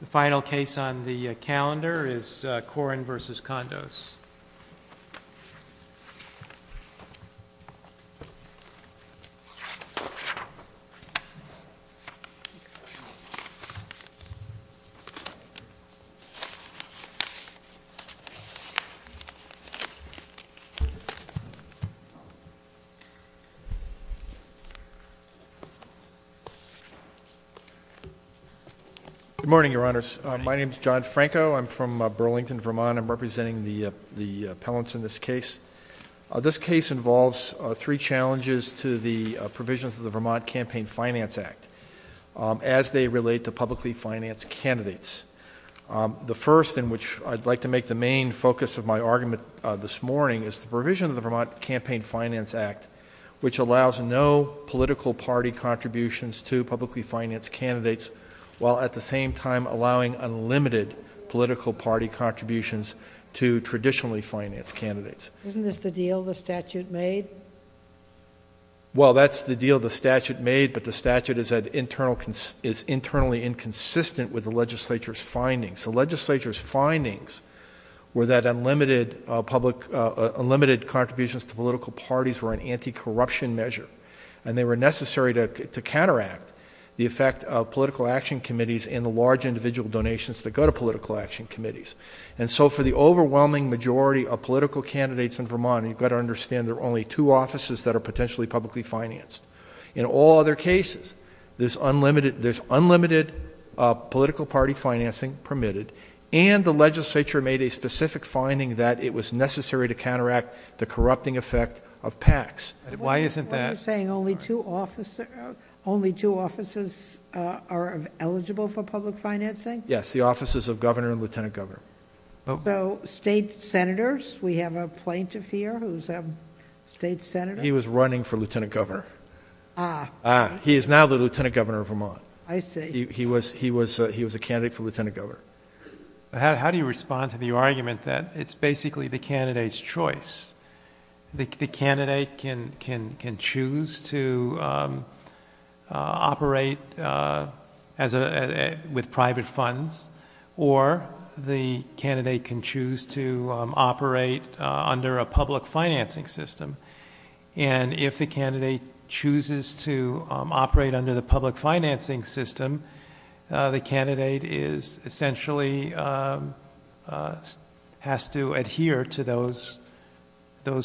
The final case on the calendar is Corren v. Kondos. Good morning, Your Honors. My name is John Franco. I'm from Burlington, Vermont. I'm representing the appellants in this case. This case involves three challenges to the provisions of the Vermont Campaign Finance Act as they relate to publicly financed candidates. The first, in which I'd like to make the main focus of my argument this morning, is the provision of the Vermont Campaign Finance Act, which allows no political party contributions to publicly financed candidates, while at the same time allowing unlimited political party contributions to traditionally financed candidates. Isn't this the deal the statute made? Well that's the deal the statute made, but the statute is internally inconsistent with the legislature's findings. The legislature's findings were that unlimited public, unlimited contributions to political parties were an anti-corruption measure, and they were necessary to counteract the effect of political action committees and the large individual donations that go to political action committees. And so for the overwhelming majority of political candidates in Vermont, you've got to understand there are only two offices that are potentially publicly financed. In all other cases, there's unlimited, there's unlimited political party financing permitted, and the legislature made a specific finding that it was necessary to counteract the corrupting effect of PACs. Why isn't that? Are you saying only two offices are eligible for public financing? Yes, the offices of Governor and Lieutenant Governor. So state senators, we have a plaintiff here who's a state senator? He was running for Lieutenant Governor. Ah. He is now the Lieutenant Governor of Vermont. I see. He was a candidate for Lieutenant Governor. How do you respond to the argument that it's basically the candidate's choice? The candidate can choose to operate with private funds, or the candidate can choose to operate under a public financing system. And if the candidate chooses to operate under the public financing system, the candidate essentially has to adhere to those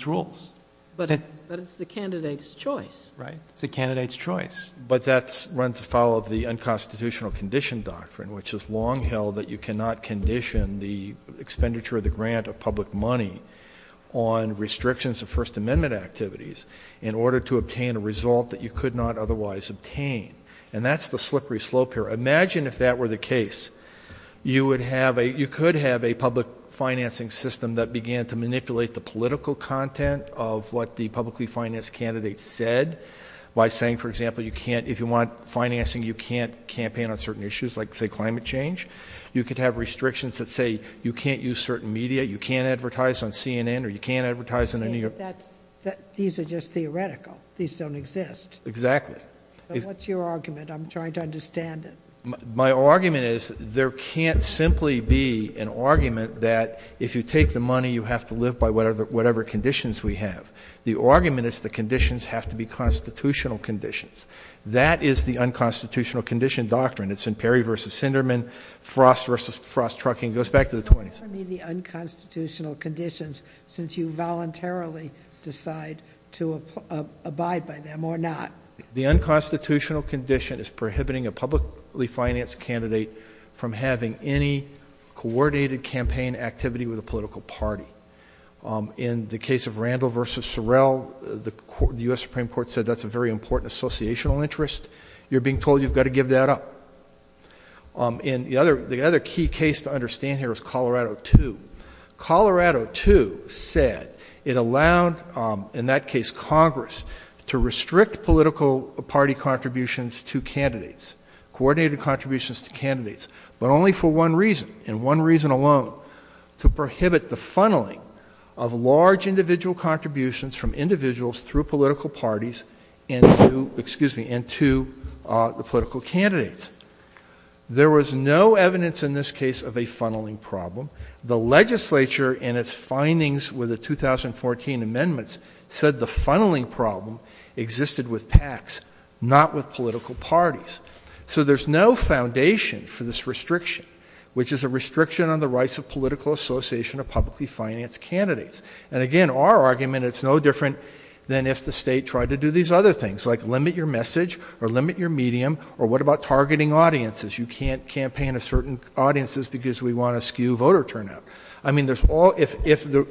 rules. But it's the candidate's choice. Right. It's the candidate's choice. But that runs afoul of the unconstitutional condition doctrine, which is long held that you cannot condition the expenditure of the grant of public money on restrictions of First Amendment activities in order to obtain a result that you could not otherwise obtain. And that's the slippery slope here. Imagine if that were the case. You could have a public financing system that began to manipulate the political content of what the publicly financed candidate said by saying, for example, if you want financing, you can't campaign on certain issues like, say, climate change. You could have restrictions that say you can't use certain media, you can't advertise on CNN, or you can't advertise in the New York Times. These are just theoretical. These don't exist. Exactly. What's your argument? I'm trying to understand it. My argument is there can't simply be an argument that if you take the money, you have to live by whatever conditions we have. The argument is the conditions have to be constitutional conditions. That is the unconstitutional condition doctrine. It's in Perry v. Sinderman, Frost v. Frost Trucking. It goes back to the 20s. What would be the unconstitutional conditions since you voluntarily decide to abide by them or not? The unconstitutional condition is prohibiting a publicly financed candidate from having any coordinated campaign activity with a political party. In the case of Randall v. Sorrell, the U.S. Supreme Court said that's a very important associational interest. You're being told you've got to give that up. The other key case to understand here is Colorado II. Colorado II said it allowed, in that case Congress, to restrict political party contributions to candidates, coordinated contributions to candidates, but only for one reason, and one reason alone, to prohibit the funneling of large individual contributions from individuals through political parties into the political candidates. There was no evidence in this case of a funneling problem. The legislature in its findings with the 2014 amendments said the funneling problem existed with PACs, not with political parties. So there's no foundation for this restriction, which is a restriction on the rights of political association of publicly financed candidates. And again, our argument, it's no different than if the state tried to do these other things, like limit your message or limit your medium, or what about targeting audiences? You can't campaign to certain audiences because we want to skew voter turnout. I mean, there's all, if the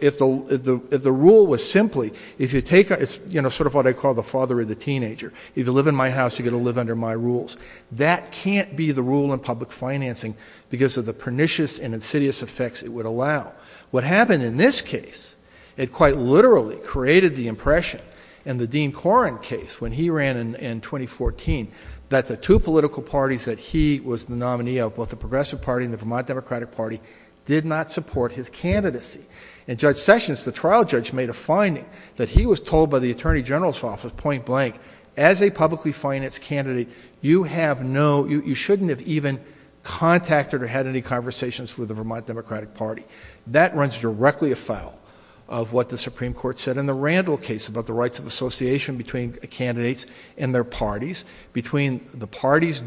rule was simply, if you take, it's sort of what I call the father of the teenager. If you live in my house, you've got to live under my rules. That can't be the rule in public financing because of the pernicious and insidious effects it would allow. What happened in this case, it quite literally created the impression, in the Dean Koren case, when he ran in 2014, that the two political parties that he was the nominee of, both the And Judge Sessions, the trial judge, made a finding that he was told by the Attorney General's office, point blank, as a publicly financed candidate, you have no, you shouldn't have even contacted or had any conversations with the Vermont Democratic Party. That runs directly afoul of what the Supreme Court said in the Randall case about the rights of association between candidates and their parties, between the party's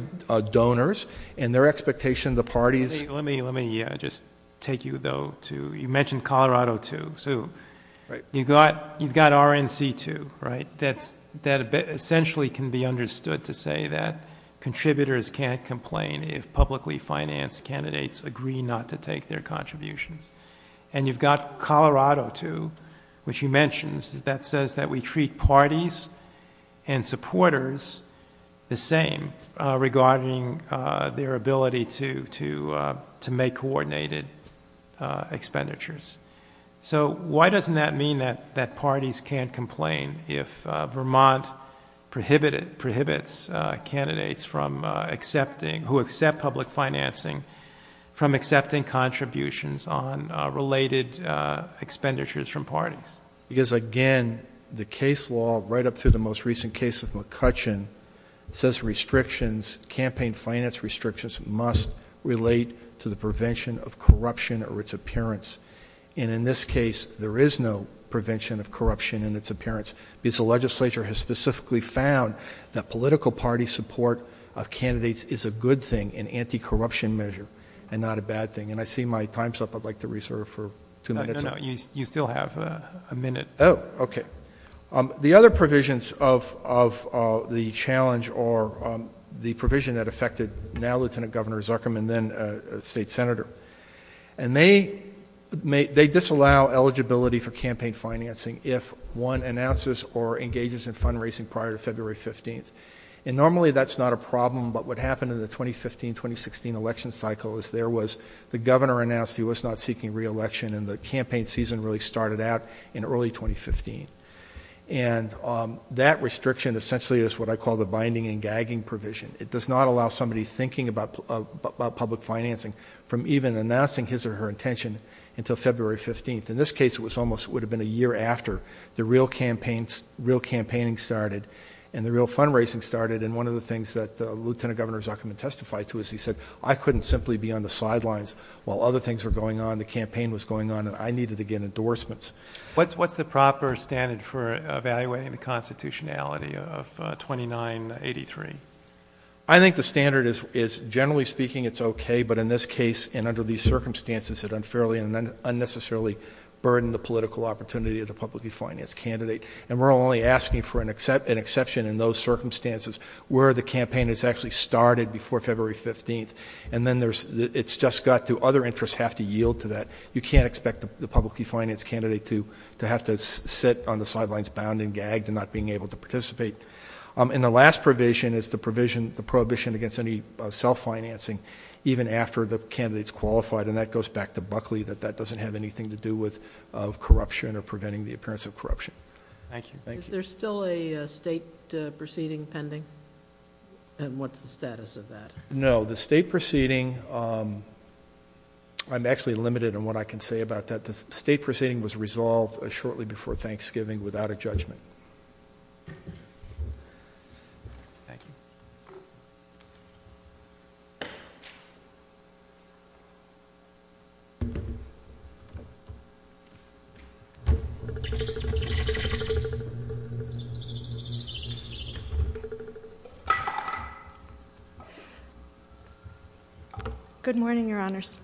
donors and their expectation the party's... Let me just take you, though, to, you mentioned Colorado, too. Right. You've got RNC, too, right? That essentially can be understood to say that contributors can't complain if publicly financed candidates agree not to take their contributions. And you've got Colorado, too, which you mentioned, that says that we treat parties and supporters the same regarding their ability to make coordinated expenditures. So why doesn't that mean that parties can't complain if Vermont prohibits candidates from accepting, who accept public financing, from accepting contributions on related expenditures from parties? Because, again, the case law, right up through the most recent case of McCutcheon, says restrictions, campaign finance restrictions must relate to the prevention of corruption or its appearance. And in this case, there is no prevention of corruption in its appearance because the legislature has specifically found that political party support of candidates is a good thing, an anti-corruption measure, and not a bad thing. And I see my time's up. I'd like to reserve for two minutes. No, no, you still have a minute. Oh, okay. The other provisions of the challenge or the provision that affected now-Lieutenant Governor Zuckerman, then a state senator, and they disallow eligibility for campaign financing if one announces or engages in fundraising prior to February 15th. And normally that's not a problem, but what happened in the 2015-2016 election cycle is there was the governor announced he was not seeking re-election and the campaign season really started out in early 2015. And that restriction essentially is what I call the binding and gagging provision. It does not allow somebody thinking about public financing from even announcing his or her intention until February 15th. In this case, it was almost, would have been a year after the real campaigns, real campaigning started and the real fundraising started. And one of the things that Lieutenant Governor Zuckerman testified to is he said, I couldn't simply be on the campaign. The campaign was going on and I needed to get endorsements. What's the proper standard for evaluating the constitutionality of 2983? I think the standard is, generally speaking, it's okay, but in this case and under these circumstances, it unfairly and unnecessarily burdened the political opportunity of the publicly financed candidate. And we're only asking for an exception in those circumstances where the campaign has actually started before February 15th. And then it's just got to other interests have to yield to that. You can't expect the publicly financed candidate to have to sit on the sidelines bound and gagged and not being able to participate. And the last provision is the prohibition against any self-financing even after the candidate's qualified. And that goes back to Buckley, that that doesn't have anything to do with corruption or preventing the appearance of corruption. Thank you. Is there still a state proceeding pending? And what's the status of that? No. The state proceeding, I'm actually limited in what I can say about that. The state proceeding was resolved shortly before Thanksgiving without a judgment. Thank you. Good morning, Your Honors.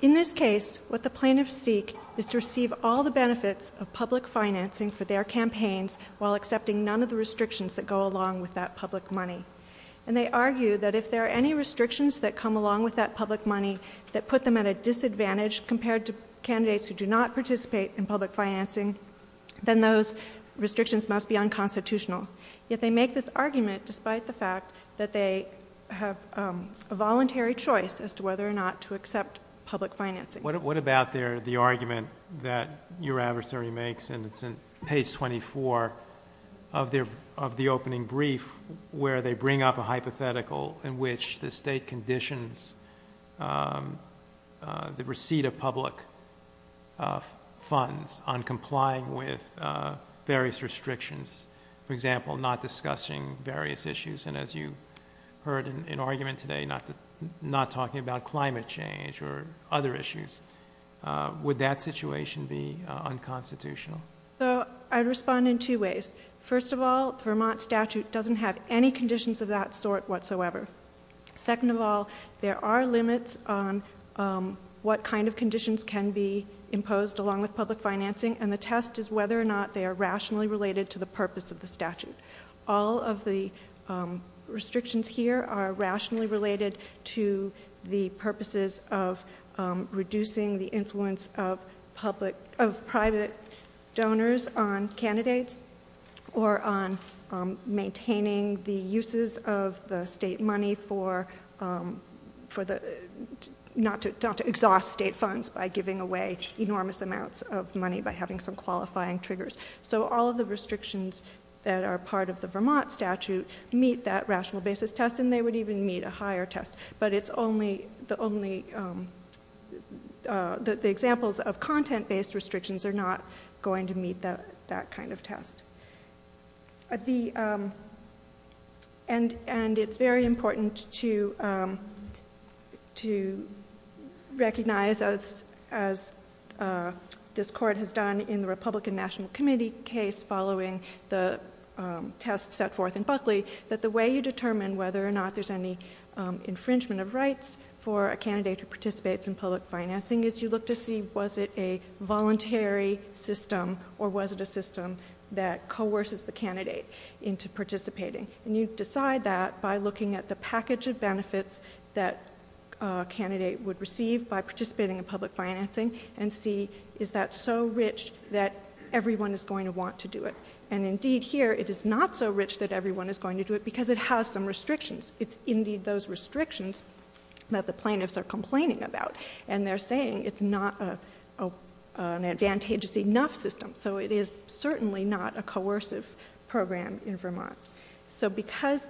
In this case, what the plaintiffs seek is to receive all the benefits of public financing for their campaigns while accepting none of the restrictions that go along with that public money. And they argue that if there are any restrictions that come along with that public money that put them at a disadvantage compared to candidates who do not participate in public financing, then those restrictions must be a voluntary choice as to whether or not to accept public financing. What about the argument that your adversary makes, and it's in page 24 of the opening brief, where they bring up a hypothetical in which the state conditions the receipt of public funds on complying with various restrictions, for example, not discussing various issues. And as you heard in argument today, not talking about climate change or other issues. Would that situation be unconstitutional? I'd respond in two ways. First of all, the Vermont statute doesn't have any conditions of that sort whatsoever. Second of all, there are limits on what kind of conditions can be imposed along with public financing, and the test is whether or not they are All of the restrictions here are rationally related to the purposes of reducing the influence of private donors on candidates or on maintaining the uses of the state money for not to exhaust state funds by giving away enormous amounts of money by having some qualifying triggers. So all of the restrictions that are part of the Vermont statute meet that rational basis test, and they would even meet a higher test. But the examples of content-based restrictions are not going to meet that kind of test. And it's very important to recognize, as this Court has done in the Republican National Committee case following the test set forth in Buckley, that the way you determine whether or not there's any infringement of rights for a candidate who participates in public that coerces the candidate into participating. And you decide that by looking at the package of benefits that a candidate would receive by participating in public financing and see, is that so rich that everyone is going to want to do it? And indeed here, it is not so rich that everyone is going to do it because it has some restrictions. It's indeed those restrictions that the plaintiffs are complaining about, and they're saying it's not an coercive program in Vermont. So because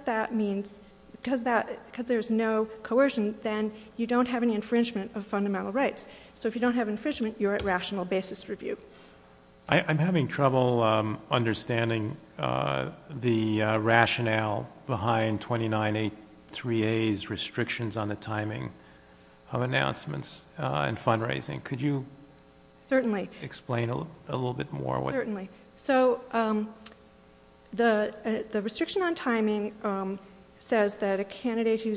there's no coercion, then you don't have any infringement of fundamental rights. So if you don't have infringement, you're at rational basis review. I'm having trouble understanding the rationale behind 29A3A's restrictions on the timing of announcements and fundraising. Could you explain a little bit more? Certainly. So the restriction on timing says that a candidate who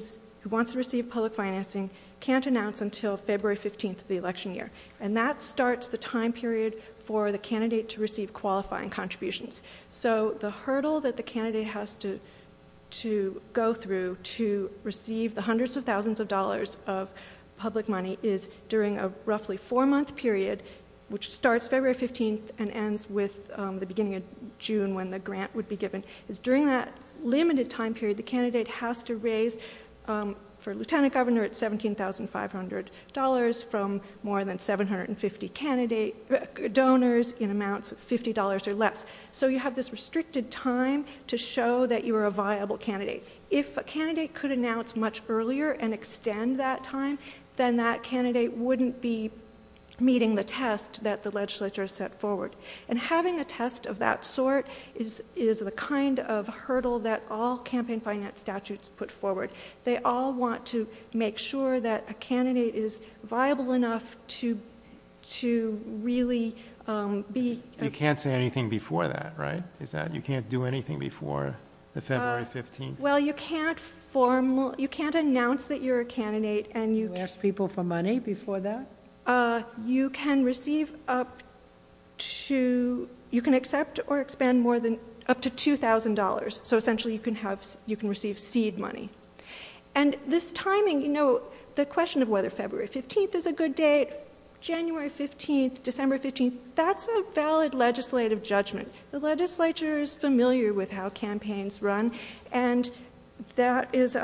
wants to receive public financing can't announce until February 15th of the election year. And that starts the time period for the candidate to receive qualifying contributions. So the hurdle that the candidate has to go through to receive the hundreds of thousands of dollars of public money is during a roughly four-month period, which starts February 15th and ends with the beginning of June when the grant would be given, is during that limited time period, the candidate has to raise, for lieutenant governor, it's $17,500 from more than 750 donors in amounts of $50 or less. So you have this restricted time to show that you are a viable candidate. If a candidate could announce much earlier and extend that time, then that candidate wouldn't be meeting the test that the legislature has set forward. And having a test of that sort is the kind of hurdle that all campaign finance statutes put forward. They all want to make sure that a candidate is viable enough to really be... You can't say anything before that, right? You can't do anything before the February 15th. Well, you can't formal... you can't announce that you're a candidate and you... You ask people for money before that? You can receive up to... you can accept or expand more than... up to $2,000. So essentially, you can receive seed money. And this timing, you know, the question of whether February 15th is a good date, January 15th, December 15th, that's a valid legislative judgment. The legislature is familiar with how campaigns run, and that is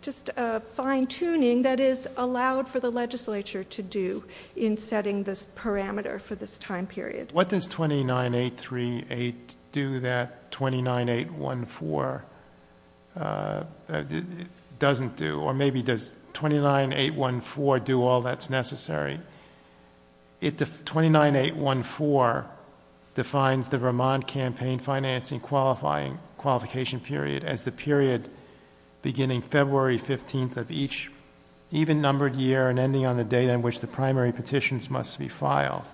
just a fine-tuning that is allowed for the legislature to do in setting this parameter for this time period. What does 29.838 do that 29.814 doesn't do? Or maybe does 29.814 do all that's necessary? 29.814 defines the Vermont campaign financing qualification period as the period beginning February 15th of each even-numbered year and ending on the date on which the primary petitions must be filed.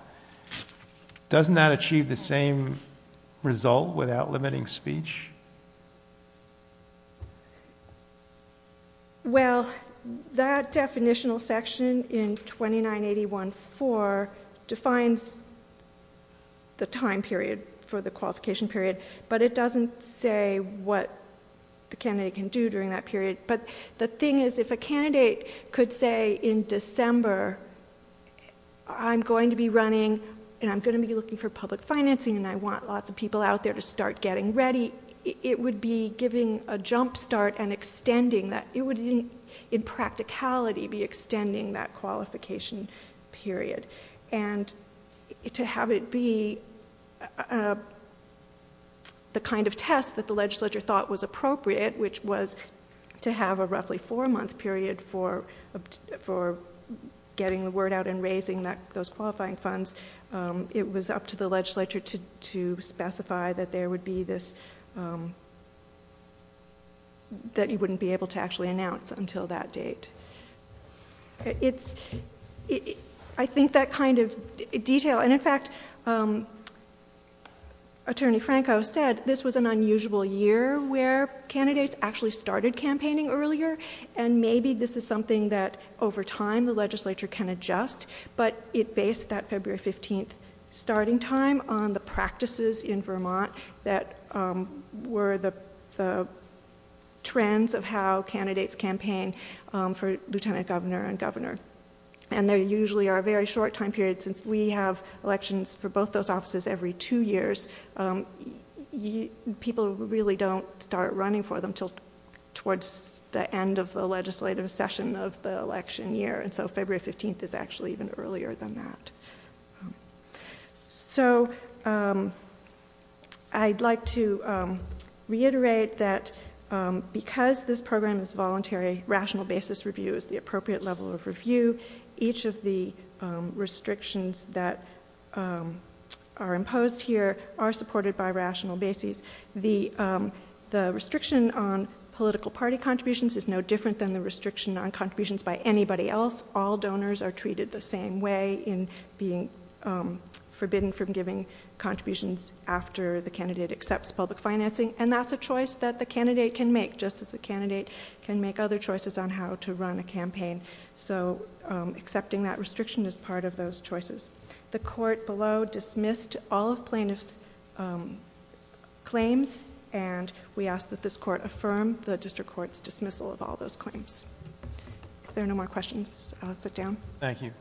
Doesn't that achieve the same result without limiting speech? Well, that definitional section in 29.814 defines the time period for the qualification period, but it doesn't say what the candidate can do during that period. But the thing is, if a candidate could say in December, I'm going to be running and I'm going to be looking for public financing and I want lots of people out there to start getting ready, it would be giving a jump start and extending that. It would, in practicality, be extending that qualification period. And to have it be the kind of test that the legislature thought was appropriate, which was to have a roughly four-month period for getting the word out and raising those qualifying funds, it was up to the legislature to specify that there would be this, that you wouldn't be able to actually announce until that date. I think that kind of detail, and in fact, Attorney Franco said this was an unusual year where candidates actually started campaigning earlier, and maybe this is something that over time the legislature can adjust, but it based that February 15th starting time on the practices in Vermont that were the trends of how candidates campaigned for lieutenant governor and governor. And there usually are very short time periods, since we have elections for both those offices every two years, people really don't start running for them until towards the end of the legislative session of the election year. And so February 15th is actually even earlier than that. So I'd like to reiterate that because this program is voluntary, rational basis review is the appropriate level of review. Each of the restrictions that are imposed here are supported by rational basis. The restriction on political party contributions is no different than the restriction on contributions by anybody else. All donors are treated the same way in being forbidden from giving contributions after the candidate accepts public financing, and that's a choice that the candidate can make, just as the candidate can make other choices on how to run a campaign. So accepting that restriction is part of those choices. The court below dismissed all of plaintiff's claims, and we ask that this court affirm the district court's dismissal of all those claims. If there are no more questions, I'll sit down. Thank you.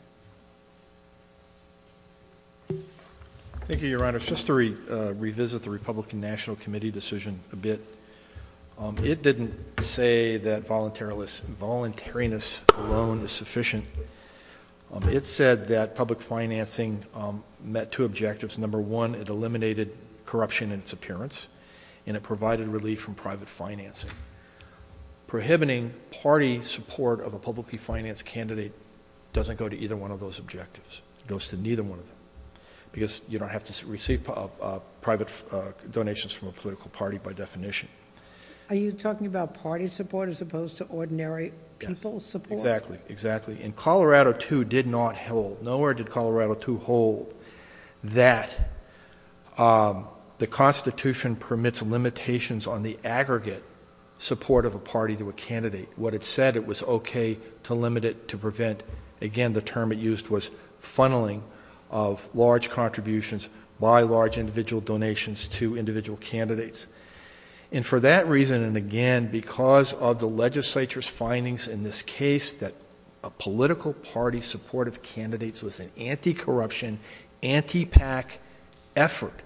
Thank you, Your Honor. Just to revisit the Republican National Committee decision a bit, it didn't say that voluntariness alone is sufficient. It said that public financing met two objectives. Number one, it eliminated corruption in its appearance, and it provided relief from private financing. Prohibiting party support of a publicly financed candidate doesn't go to either one of those objectives. It goes to neither one of them because you don't have to receive private donations from a political party by definition. Are you talking about party support as opposed to ordinary people's support? Exactly. Exactly. And Colorado, too, did not hold. Nowhere did Colorado, too, hold that the Constitution permits limitations on the aggregate support of a party to a candidate. What it said, it was okay to limit it to prevent, again, the term it used was funneling of large contributions by large individual donations to individual candidates. And for that reason, and again because of the legislature's findings in this case that a political party support of candidates was an anti-corruption, anti-PAC effort,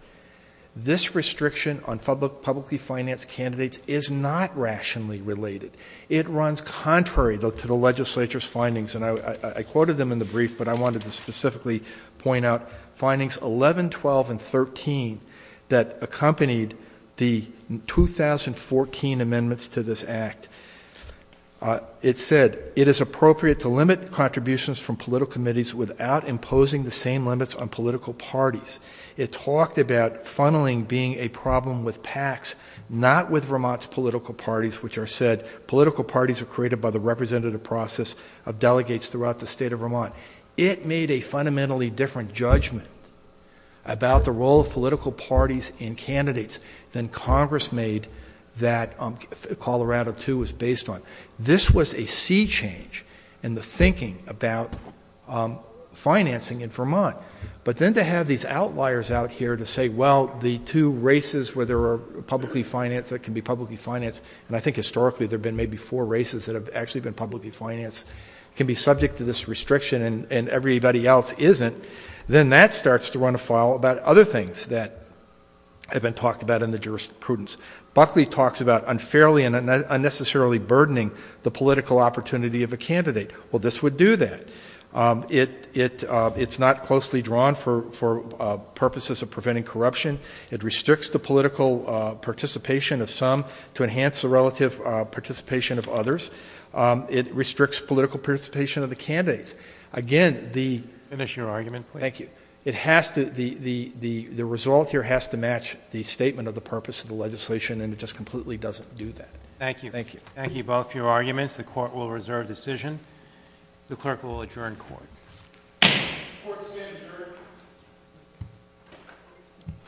this restriction on publicly financed candidates is not rationally related. It runs contrary, though, to the legislature's findings, and I quoted them in the brief, but I wanted to specifically point out findings 11, 12, and 13 that accompanied the 2014 amendments to this act. It said it is appropriate to limit contributions from political committees without imposing the same limits on political parties. It talked about funneling being a problem with PACs, not with Vermont's political parties, which are said political parties are created by the representative process of delegates throughout the state of Vermont. It made a fundamentally different judgment about the role of political parties in candidates than Congress made that Colorado, too, was based on. This was a sea change in the thinking about financing in Vermont. But then to have these outliers out here to say, well, the two races where there are publicly financed that can be publicly financed, and I think historically there have been maybe four races that have actually been publicly financed, can be subject to this restriction and everybody else isn't, then that starts to run afoul about other things that have been talked about in the jurisprudence. Buckley talks about unfairly and unnecessarily burdening the political opportunity of a candidate. Well, this would do that. It's not closely drawn for purposes of preventing corruption. It restricts the political participation of some to enhance the relative participation of others. It restricts political participation of the candidates. Again, the- Finish your argument, please. Thank you. The result here has to match the statement of the purpose of the legislation, and it just completely doesn't do that. Thank you. Thank you. Thank you both for your arguments. The court will reserve decision. The clerk will adjourn court. Court is adjourned.